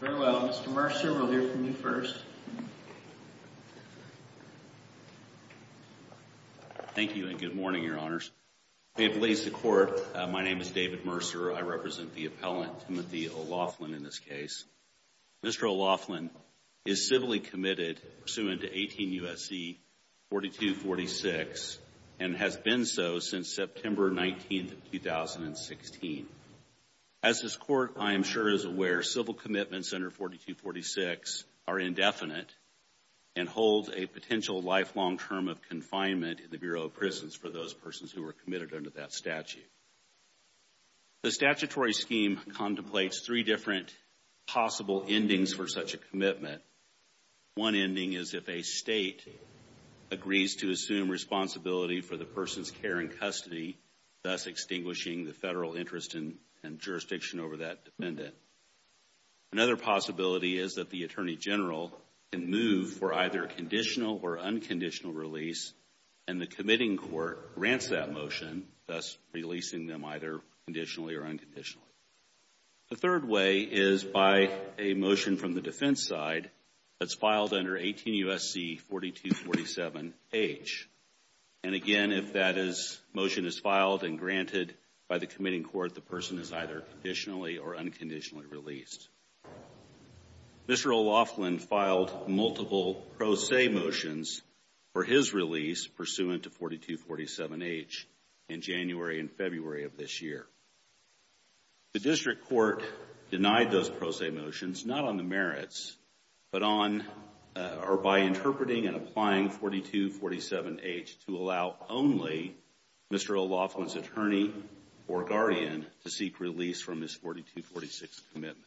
Very well. Mr. Mercer, we'll hear from you first. Thank you and good morning, Your Honors. My name is David Mercer. I represent the appellant, Timothy O'Laughlin, in this case. Mr. O'Laughlin is civilly committed pursuant to 18 U.S.C. 4246 and has been so since September 19, 2016. As this Court, I am sure, is aware, civil commitments under 4246 are indefinite and hold a potential lifelong term of confinement in the Bureau of Prisons for those persons who were committed under that statute. The statutory scheme contemplates three different possible endings for such a commitment. One ending is if a state agrees to assume responsibility for the person's care in custody, thus extinguishing the federal interest and jurisdiction over that defendant. Another possibility is that the Attorney General can move for either conditional or unconditional release and the committing court grants that motion, thus releasing them either conditionally or unconditionally. The third way is by a motion from the defense side that's filed under 18 U.S.C. 4247H. And again, if that motion is filed and granted by the committing court, the person is either conditionally or unconditionally released. Mr. O'Laughlin filed multiple pro se motions for his release pursuant to 4247H in January and February of this year. The district court denied those pro se motions, not on the merits, but by interpreting and applying 4247H to allow only Mr. O'Laughlin's attorney or guardian to seek release from his 4246 commitment.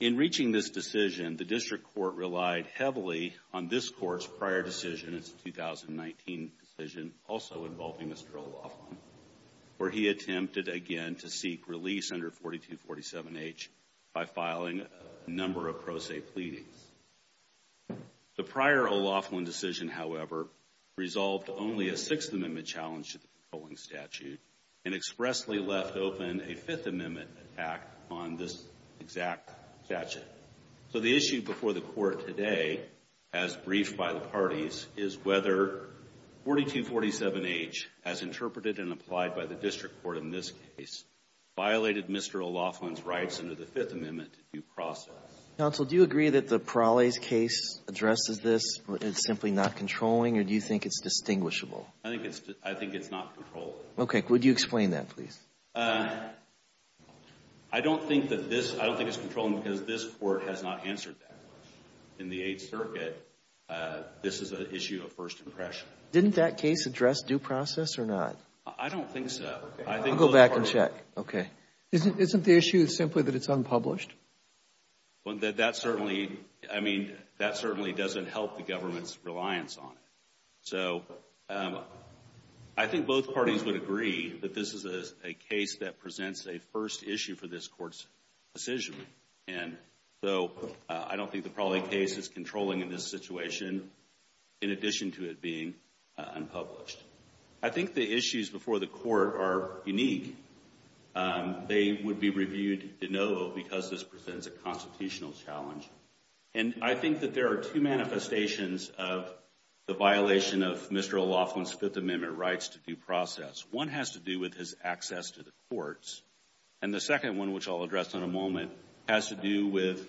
In reaching this decision, the district court relied heavily on this court's prior decision, its 2019 decision, also involving Mr. O'Laughlin, where he attempted again to seek release under 4247H by filing a number of pro se pleadings. The prior O'Laughlin decision, however, resolved only a Sixth Amendment challenge to the controlling statute and expressly left open a Fifth Amendment act on this exact statute. So the issue before the court today, as briefed by the parties, is whether 4247H, as interpreted and applied by the district court in this case, violated Mr. O'Laughlin's rights under the Fifth Amendment to due process. Counsel, do you agree that the Parales case addresses this, it's simply not controlling, or do you think it's distinguishable? I think it's not controllable. Okay. Would you explain that, please? I don't think that this, I don't think it's controlling because this court has not answered that question. In the Eighth Circuit, this is an issue of first impression. Didn't that case address due process or not? I don't think so. I'll go back and check. Okay. Isn't the issue simply that it's unpublished? That certainly, I mean, that certainly doesn't help the government's reliance on it. So I think both parties would agree that this is a case that presents a first issue for this court's decision. And so I don't think the Parale case is controlling in this situation, in addition to it being unpublished. I think the issues before the court are unique. They would be reviewed de novo because this presents a constitutional challenge. And I think that there are two manifestations of the violation of Mr. O'Loughlin's Fifth Amendment rights to due process. One has to do with his access to the courts, and the second one, which I'll address in a moment, has to do with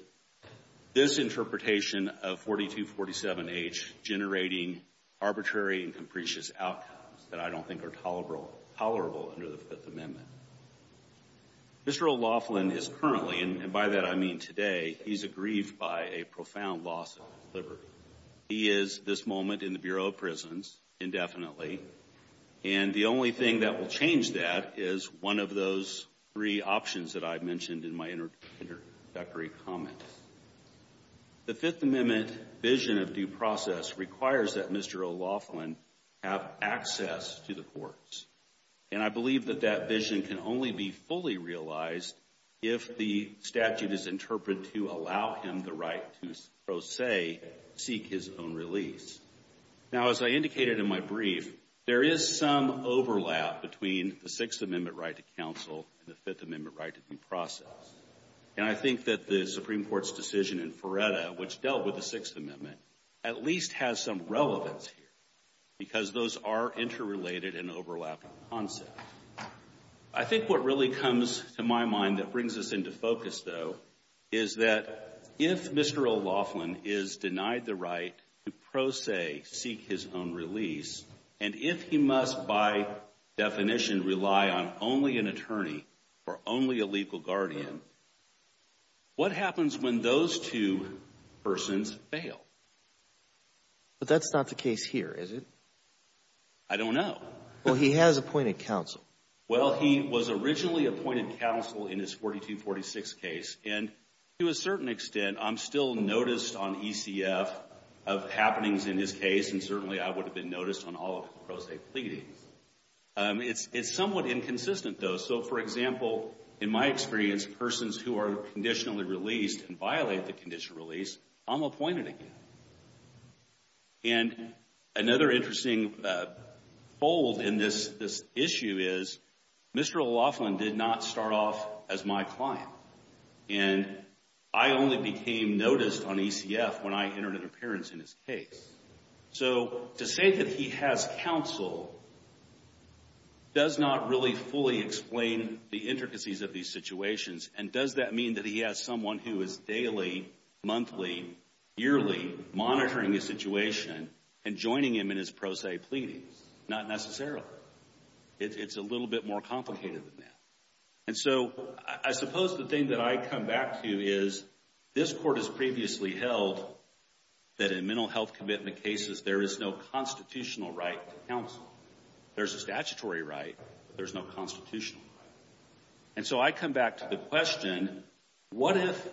this interpretation of 4247H generating arbitrary and capricious outcomes that I don't think are tolerable under the Fifth Amendment. Mr. O'Loughlin is currently, and by that I mean today, he's aggrieved by a profound loss of liberty. He is, at this moment, in the Bureau of Prisons indefinitely. And the only thing that will change that is one of those three options that I mentioned in my introductory comment. The Fifth Amendment vision of due process requires that Mr. O'Loughlin have access to the courts. And I believe that that vision can only be fully realized if the statute is interpreted to allow him the right to, so to say, seek his own release. Now, as I indicated in my brief, there is some overlap between the Sixth Amendment right to counsel and the Fifth Amendment right to due process. And I think that the Supreme Court's decision in Feretta, which dealt with the Sixth Amendment, at least has some relevance here because those are interrelated and overlap in concept. I think what really comes to my mind that brings us into focus, though, is that if Mr. O'Loughlin is denied the right to, pro se, seek his own release, and if he must, by definition, rely on only an attorney or only a legal guardian, what happens when those two persons fail? But that's not the case here, is it? I don't know. Well, he has appointed counsel. Well, he was originally appointed counsel in his 4246 case. And to a certain extent, I'm still noticed on ECF of happenings in his case, and certainly I would have been noticed on all of his pro se pleadings. It's somewhat inconsistent, though. So, for example, in my experience, persons who are conditionally released and violate the condition of release, I'm appointed again. And another interesting fold in this issue is Mr. O'Loughlin did not start off as my client. And I only became noticed on ECF when I entered an appearance in his case. So, to say that he has counsel does not really fully explain the intricacies of these situations. And does that mean that he has someone who is daily, monthly, yearly monitoring the situation and joining him in his pro se pleadings? Not necessarily. It's a little bit more complicated than that. And so, I suppose the thing that I come back to is this court has previously held that in mental health commitment cases, there is no constitutional right to counsel. There's a statutory right, but there's no constitutional right. And so I come back to the question, what if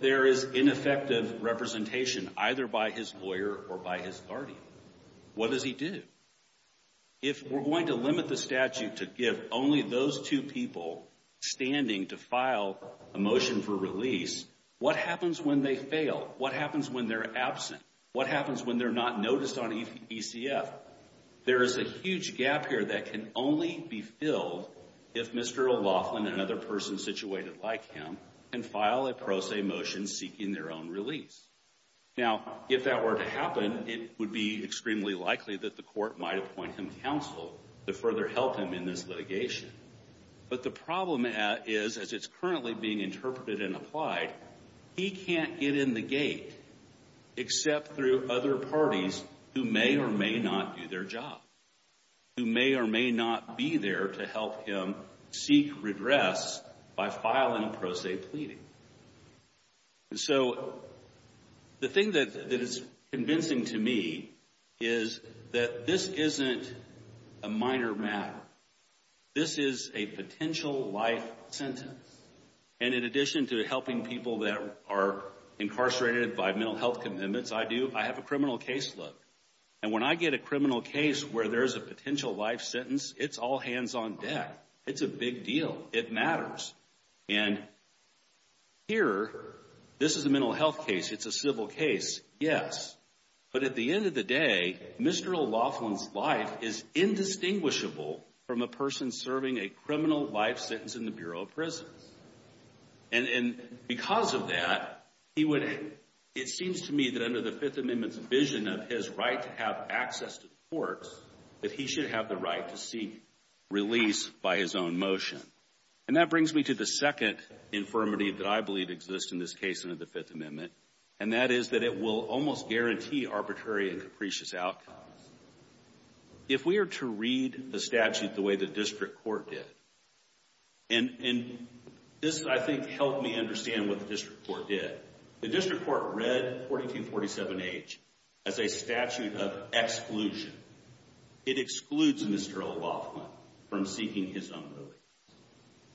there is ineffective representation either by his lawyer or by his guardian? What does he do? If we're going to limit the statute to give only those two people standing to file a motion for release, what happens when they fail? What happens when they're absent? What happens when they're not noticed on ECF? There is a huge gap here that can only be filled if Mr. O'Loughlin and another person situated like him can file a pro se motion seeking their own release. Now, if that were to happen, it would be extremely likely that the court might appoint him counsel to further help him in this litigation. But the problem is, as it's currently being interpreted and applied, he can't get in the gate except through other parties who may or may not do their job. Who may or may not be there to help him seek redress by filing a pro se pleading. And so the thing that is convincing to me is that this isn't a minor matter. This is a potential life sentence. And in addition to helping people that are incarcerated by mental health commitments, I do, I have a criminal case load. And when I get a criminal case where there's a potential life sentence, it's all hands on deck. It's a big deal. It matters. And here, this is a mental health case. It's a civil case. Yes. But at the end of the day, Mr. O'Loughlin's life is indistinguishable from a person serving a criminal life sentence in the Bureau of Prisons. And because of that, it seems to me that under the Fifth Amendment's vision of his right to have access to the courts, that he should have the right to seek release by his own motion. And that brings me to the second affirmative that I believe exists in this case under the Fifth Amendment, and that is that it will almost guarantee arbitrary and capricious outcomes. If we are to read the statute the way the district court did, and this, I think, helped me understand what the district court did. The district court read 4247H as a statute of exclusion. It excludes Mr. O'Loughlin from seeking his own release.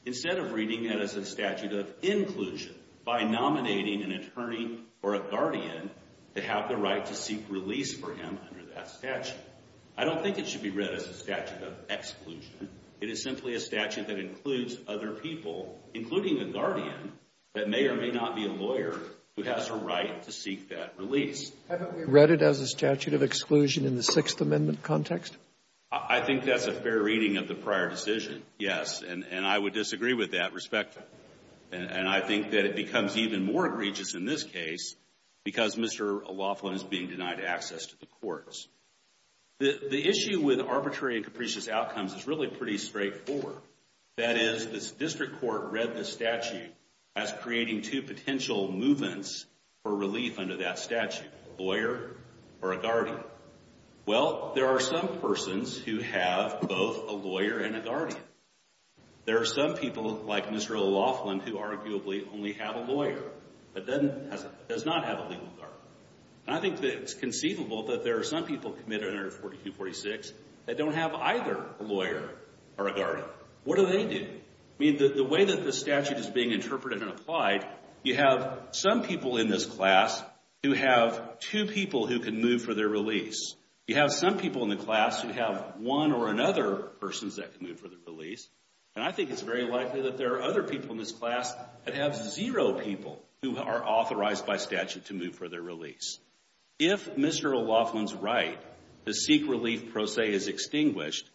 Instead of reading it as a statute of inclusion by nominating an attorney or a guardian to have the right to seek release for him under that statute. I don't think it should be read as a statute of exclusion. It is simply a statute that includes other people, including a guardian that may or may not be a lawyer who has a right to seek that release. Haven't we read it as a statute of exclusion in the Sixth Amendment context? I think that's a fair reading of the prior decision, yes. And I would disagree with that respectively. And I think that it becomes even more egregious in this case because Mr. O'Loughlin is being denied access to the courts. The issue with arbitrary and capricious outcomes is really pretty straightforward. That is, the district court read the statute as creating two potential movements for relief under that statute, a lawyer or a guardian. Well, there are some persons who have both a lawyer and a guardian. There are some people like Mr. O'Loughlin who arguably only have a lawyer but does not have a legal guardian. And I think that it's conceivable that there are some people committed under 4246 that don't have either a lawyer or a guardian. What do they do? I mean, the way that the statute is being interpreted and applied, you have some people in this class who have two people who can move for their release. You have some people in the class who have one or another persons that can move for their release. And I think it's very likely that there are other people in this class that have zero people who are authorized by statute to move for their release. If Mr. O'Loughlin's right to seek relief pro se is extinguished,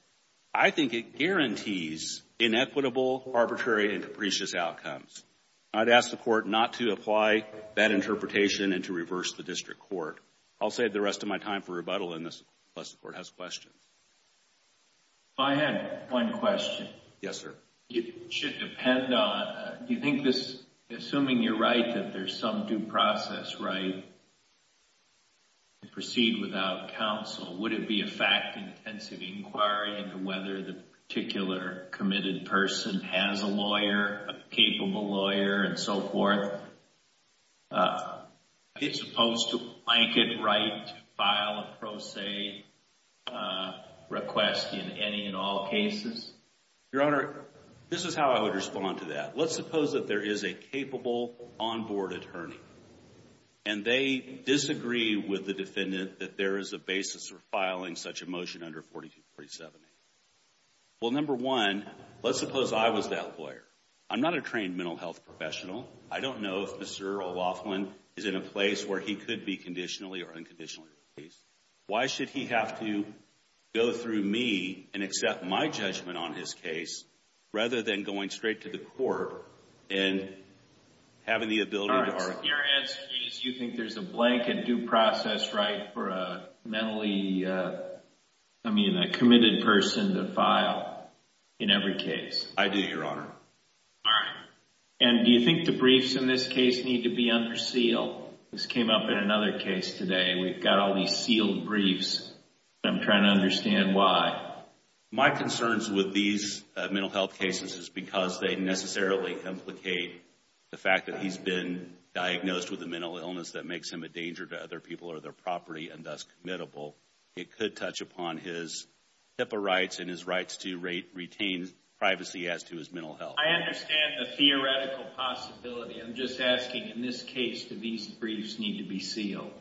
I think it guarantees inequitable, arbitrary, and capricious outcomes. I'd ask the court not to apply that interpretation and to reverse the district court. I'll save the rest of my time for rebuttal unless the court has questions. I had one question. Yes, sir. It should depend on, do you think this, assuming you're right that there's some due process right to proceed without counsel, would it be a fact-intensive inquiry into whether the particular committed person has a lawyer, a capable lawyer, and so forth? Is it supposed to blanket right to file a pro se request in any and all cases? Your Honor, this is how I would respond to that. Let's suppose that there is a capable on-board attorney, and they disagree with the defendant that there is a basis for filing such a motion under 4247A. Well, number one, let's suppose I was that lawyer. I'm not a trained mental health professional. I don't know if Mr. O'Loughlin is in a place where he could be conditionally or unconditionally released. Why should he have to go through me and accept my judgment on his case rather than going straight to the court and having the ability to… Your answer is you think there's a blanket due process right for a mentally, I mean, a committed person to file in every case. I do, Your Honor. All right. And do you think the briefs in this case need to be under seal? This came up in another case today. We've got all these sealed briefs, and I'm trying to understand why. My concerns with these mental health cases is because they necessarily implicate the fact that he's been diagnosed with a mental illness that makes him a danger to other people or their property and thus committable. It could touch upon his TIPA rights and his rights to retain privacy as to his mental health. I understand the theoretical possibility. I'm just asking, in this case, do these briefs need to be sealed?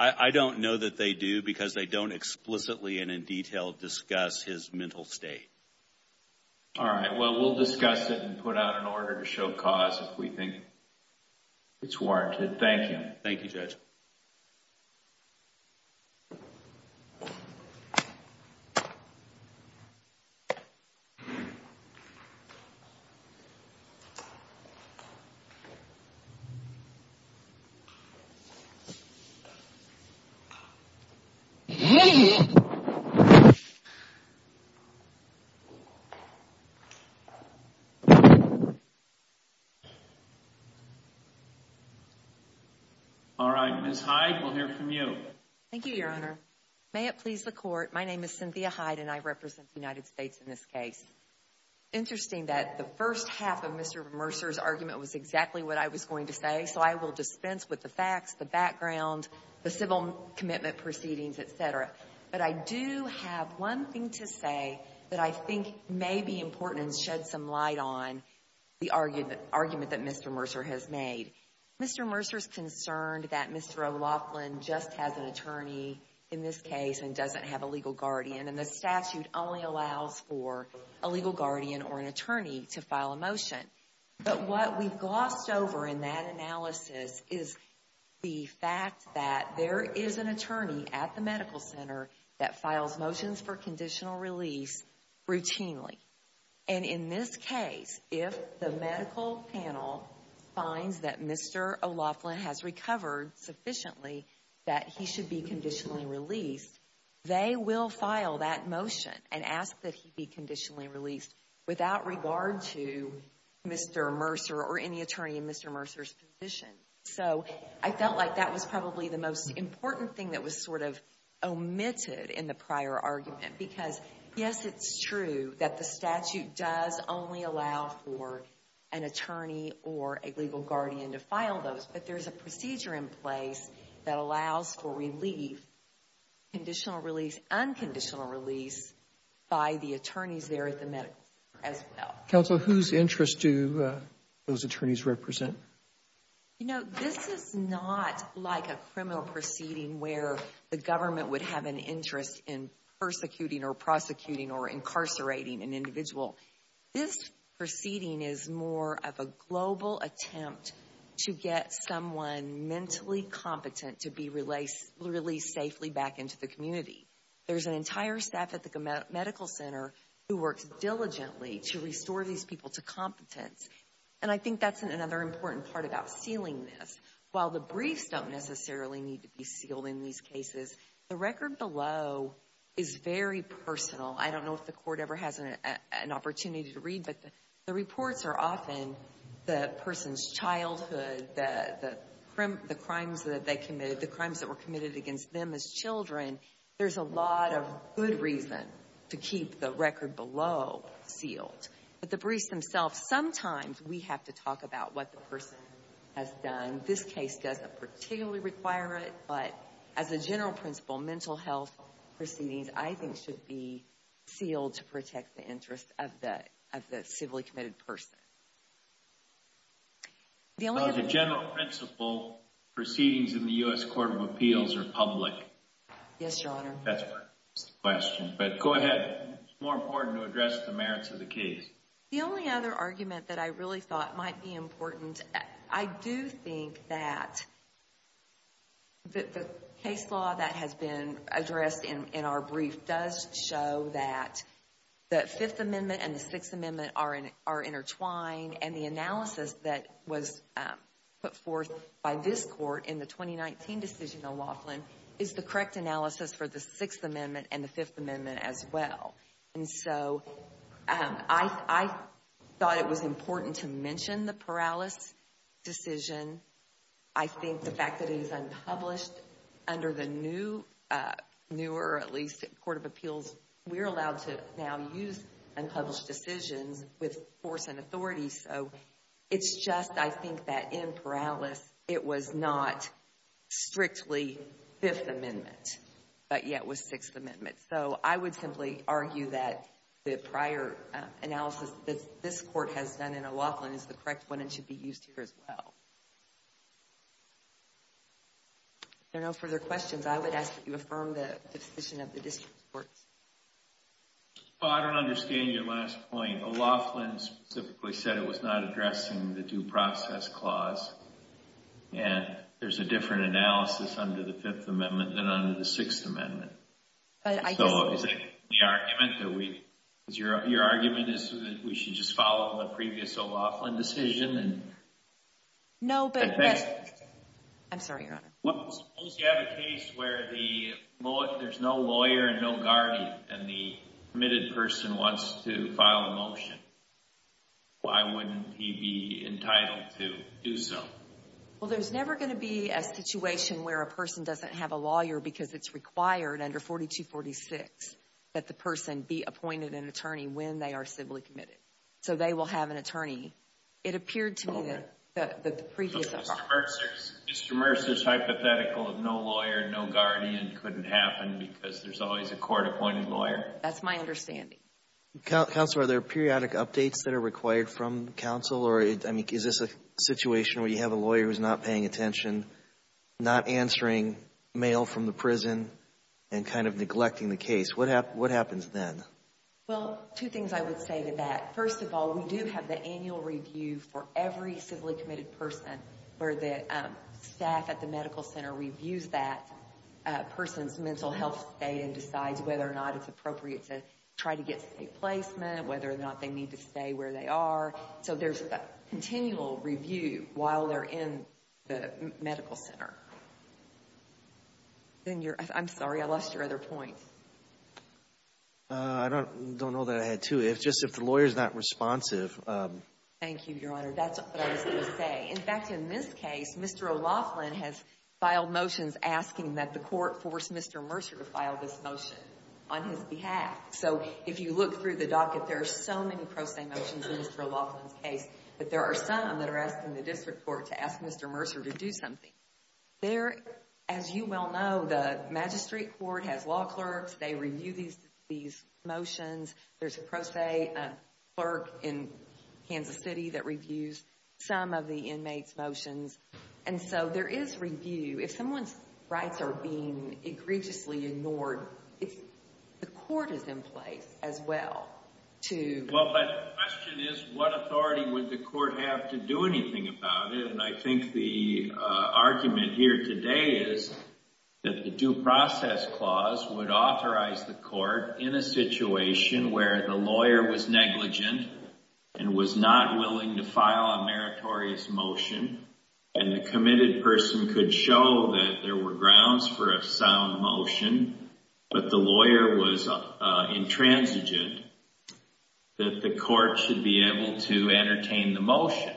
I don't know that they do because they don't explicitly and in detail discuss his mental state. All right. Well, we'll discuss it and put out an order to show cause if we think it's warranted. Thank you. Thank you, Judge. Thank you. All right. Ms. Hyde, we'll hear from you. Thank you, Your Honor. May it please the Court, my name is Cynthia Hyde, and I represent the United States in this case. Interesting that the first half of Mr. Mercer's argument was exactly what I was going to say, so I will dispense with the facts, the background, the civil commitment proceedings, et cetera. But I do have one thing to say that I think may be important and shed some light on the argument that Mr. Mercer has made. Mr. Mercer is concerned that Mr. O'Loughlin just has an attorney in this case and doesn't have a legal guardian, and the statute only allows for a legal guardian or an attorney to file a motion. But what we've glossed over in that analysis is the fact that there is an attorney at the medical center that files motions for conditional release routinely. And in this case, if the medical panel finds that Mr. O'Loughlin has recovered sufficiently that he should be conditionally released, they will file that motion and ask that he be conditionally released without regard to Mr. Mercer or any attorney in Mr. Mercer's position. So I felt like that was probably the most important thing that was sort of omitted in the prior argument, because, yes, it's true that the statute does only allow for an attorney or a legal guardian to file those, but there's a procedure in place that allows for relief, conditional release, unconditional release, by the attorneys there at the medical center as well. Counsel, whose interests do those attorneys represent? You know, this is not like a criminal proceeding where the government would have an interest in persecuting or prosecuting or incarcerating an individual. This proceeding is more of a global attempt to get someone mentally competent to be released safely back into the community. There's an entire staff at the medical center who works diligently to restore these people to competence, and I think that's another important part about sealing this. While the briefs don't necessarily need to be sealed in these cases, the record below is very personal. I don't know if the court ever has an opportunity to read, but the reports are often the person's childhood, the crimes that they committed, the crimes that were committed against them as children. There's a lot of good reason to keep the record below sealed. But the briefs themselves, sometimes we have to talk about what the person has done. This case doesn't particularly require it, but as a general principle, mental health proceedings, I think, should be sealed to protect the interests of the civilly committed person. The general principle proceedings in the U.S. Court of Appeals are public. Yes, Your Honor. That's my question. But go ahead. It's more important to address the merits of the case. The only other argument that I really thought might be important, I do think that the case law that has been addressed in our brief does show that the Fifth Amendment and the Sixth Amendment are intertwined, and the analysis that was put forth by this court in the 2019 decision on Laughlin is the correct analysis for the Sixth Amendment and the Fifth Amendment as well. And so I thought it was important to mention the Perales decision. I think the fact that it is unpublished under the new, newer at least, Court of Appeals, we're allowed to now use unpublished decisions with force and authority. So it's just, I think, that in Perales, it was not strictly Fifth Amendment, but yet was Sixth Amendment. So I would simply argue that the prior analysis that this court has done in Laughlin is the correct one and should be used here as well. If there are no further questions, I would ask that you affirm the decision of the district courts. Well, I don't understand your last point. Laughlin specifically said it was not addressing the due process clause, and there's a different analysis under the Fifth Amendment than under the Sixth Amendment. So is that the argument? Your argument is that we should just follow the previous O'Laughlin decision? No, but yes. I'm sorry, Your Honor. Suppose you have a case where there's no lawyer and no guardian, and the committed person wants to file a motion. Why wouldn't he be entitled to do so? Well, there's never going to be a situation where a person doesn't have a lawyer because it's required under 4246 that the person be appointed an attorney when they are civilly committed. So they will have an attorney. It appeared to me that the previous article. Mr. Mercer's hypothetical of no lawyer, no guardian couldn't happen because there's always a court-appointed lawyer? That's my understanding. Counsel, are there periodic updates that are required from counsel? Or, I mean, is this a situation where you have a lawyer who's not paying attention, not answering mail from the prison, and kind of neglecting the case? What happens then? Well, two things I would say to that. First of all, we do have the annual review for every civilly committed person where the staff at the medical center reviews that person's mental health state and decides whether or not it's appropriate to try to get state placement, whether or not they need to stay where they are. So there's a continual review while they're in the medical center. I'm sorry, I lost your other point. I don't know that I had two. It's just if the lawyer's not responsive. Thank you, Your Honor. That's what I was going to say. In fact, in this case, Mr. O'Loughlin has filed motions asking that the court force Mr. Mercer to file this motion on his behalf. So if you look through the docket, there are so many pro se motions in Mr. O'Loughlin's case, but there are some that are asked in the district court to ask Mr. Mercer to do something. As you well know, the magistrate court has law clerks. They review these motions. There's a pro se clerk in Kansas City that reviews some of the inmates' motions. And so there is review. If someone's rights are being egregiously ignored, the court is in place as well. Well, but the question is what authority would the court have to do anything about it? And I think the argument here today is that the due process clause would authorize the court in a situation where the lawyer was negligent and was not willing to file a meritorious motion and the committed person could show that there were grounds for a sound motion, but the lawyer was intransigent, that the court should be able to entertain the motion.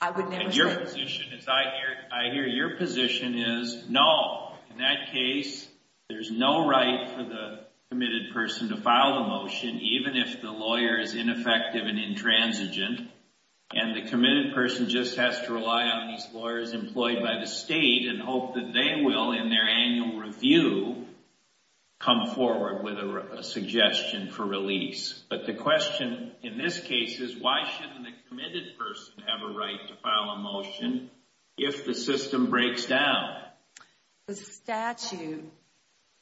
I would never say that. I hear your position is no. In that case, there's no right for the committed person to file the motion, even if the lawyer is ineffective and intransigent, and the committed person just has to rely on these lawyers employed by the state and hope that they will, in their annual review, come forward with a suggestion for release. But the question in this case is why shouldn't the committed person have a right to file a motion if the system breaks down? The statute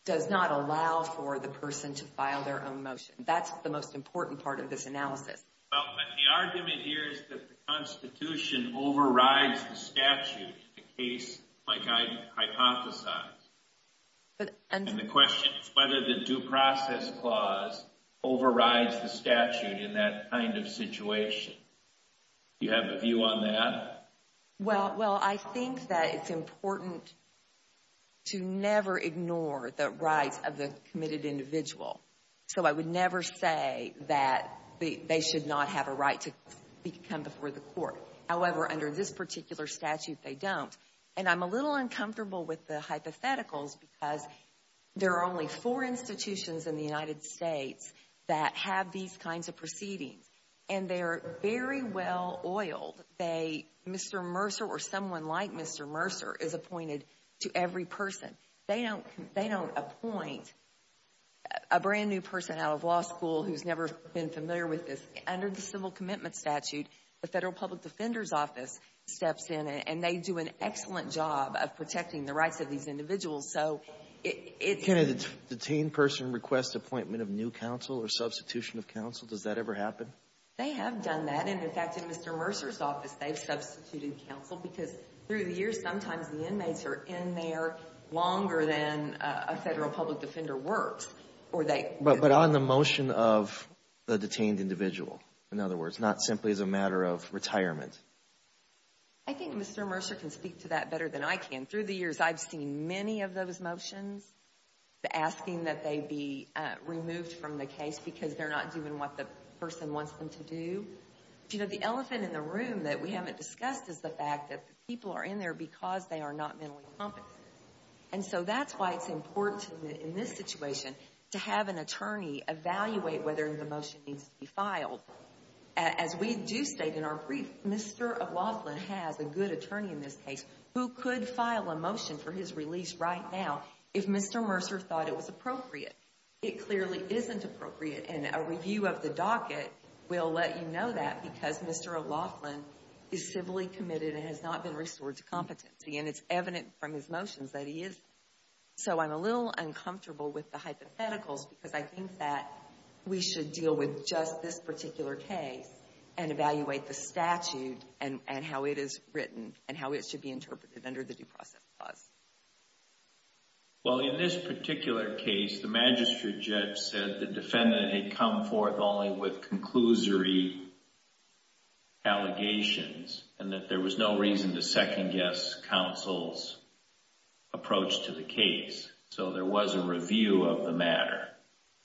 does not allow for the person to file their own motion. That's the most important part of this analysis. Well, but the argument here is that the Constitution overrides the statute in a case like I hypothesize. And the question is whether the due process clause overrides the statute in that kind of situation. Do you have a view on that? Well, I think that it's important to never ignore the rights of the committed individual. So I would never say that they should not have a right to come before the court. However, under this particular statute, they don't. And I'm a little uncomfortable with the hypotheticals because there are only four institutions in the United States that have these kinds of proceedings. And they are very well oiled. Mr. Mercer or someone like Mr. Mercer is appointed to every person. They don't appoint a brand-new person out of law school who's never been familiar with this. Under the civil commitment statute, the Federal Public Defender's Office steps in, and they do an excellent job of protecting the rights of these individuals. So it's — Can a detained person request appointment of new counsel or substitution of counsel? Does that ever happen? They have done that. And, in fact, in Mr. Mercer's office, they've substituted counsel because through the years, sometimes the inmates are in there longer than a Federal Public Defender works. But on the motion of the detained individual, in other words, not simply as a matter of retirement. I think Mr. Mercer can speak to that better than I can. Through the years, I've seen many of those motions asking that they be removed from the case because they're not doing what the person wants them to do. You know, the elephant in the room that we haven't discussed is the fact that people are in there because they are not mentally competent. And so that's why it's important in this situation to have an attorney evaluate whether the motion needs to be filed. As we do state in our brief, Mr. Laughlin has a good attorney in this case who could file a motion for his release right now if Mr. Mercer thought it was appropriate. It clearly isn't appropriate, and a review of the docket will let you know that because Mr. Laughlin is civilly committed and has not been restored to competency. And it's evident from his motions that he isn't. So I'm a little uncomfortable with the hypotheticals because I think that we should deal with just this particular case and evaluate the statute and how it is written and how it should be interpreted under the Due Process Clause. Well, in this particular case, the magistrate judge said the defendant had come forth only with conclusory allegations and that there was no reason to second-guess counsel's approach to the case. So there was a review of the matter.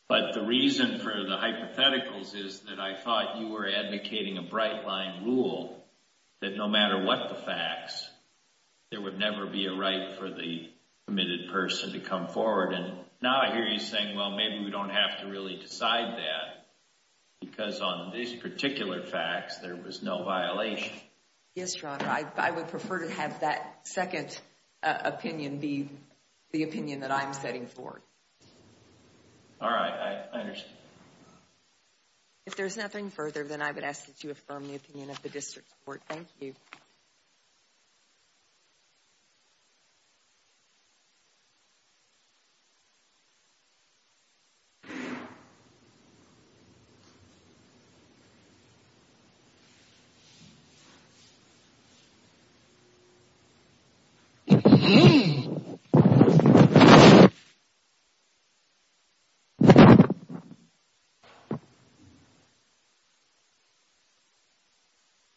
But the reason for the hypotheticals is that I thought you were advocating a bright-line rule that no matter what the facts, there would never be a right for the committed person to come forward. And now I hear you saying, well, maybe we don't have to really decide that because on these particular facts, there was no violation. Yes, Your Honor. I would prefer to have that second opinion be the opinion that I'm setting forward. All right. I understand. If there's nothing further, then I would ask that you affirm the opinion of the district court. Thank you. If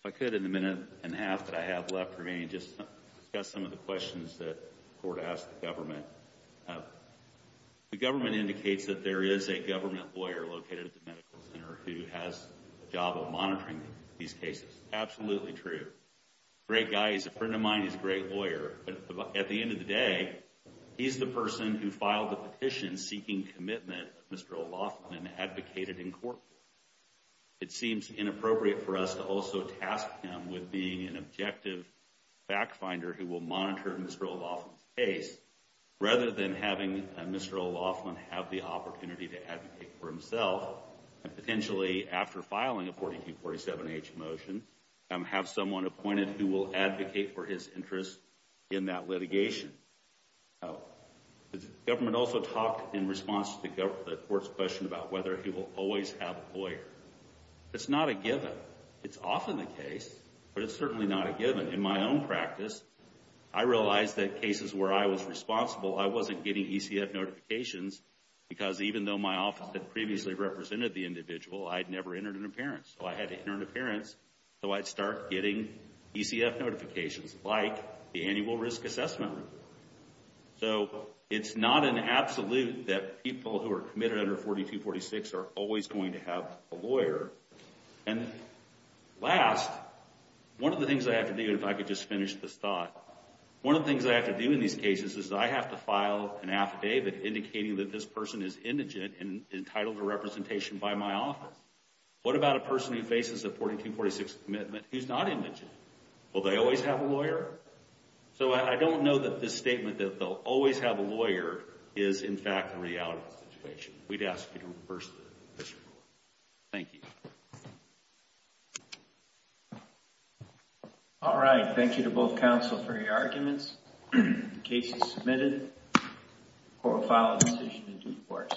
I could, in the minute and a half that I have left remaining, just discuss some of the questions that the court asked the government. The government indicates that there is a government lawyer located at the medical center who has a job of monitoring these cases. Absolutely true. Great guy. He's a friend of mine. He's a great lawyer. At the end of the day, he's the person who filed the petition seeking commitment of Mr. O'Loughlin and advocated in court. It seems inappropriate for us to also task him with being an objective fact-finder who will monitor Mr. O'Loughlin's case rather than having Mr. O'Loughlin have the opportunity to advocate for himself. Potentially, after filing a 4247H motion, have someone appointed who will advocate for his interest in that litigation. The government also talked in response to the court's question about whether he will always have a lawyer. It's not a given. It's often the case, but it's certainly not a given. In my own practice, I realized that cases where I was responsible, I wasn't getting ECF notifications because even though my office had previously represented the individual, I'd never entered an appearance. I had to enter an appearance so I'd start getting ECF notifications like the annual risk assessment. It's not an absolute that people who are committed under 4246 are always going to have a lawyer. Last, one of the things I have to do, if I could just finish this thought, one of the things I have to do in these cases is I have to file an affidavit indicating that this person is indigent and entitled to representation by my office. What about a person who faces a 4246 commitment who's not indigent? Will they always have a lawyer? I don't know that this statement that they'll always have a lawyer is, in fact, the reality of the situation. We'd ask you to reverse the question. Thank you. All right. Thank you to both counsel for your arguments. The case is submitted. Court will file a decision in due course.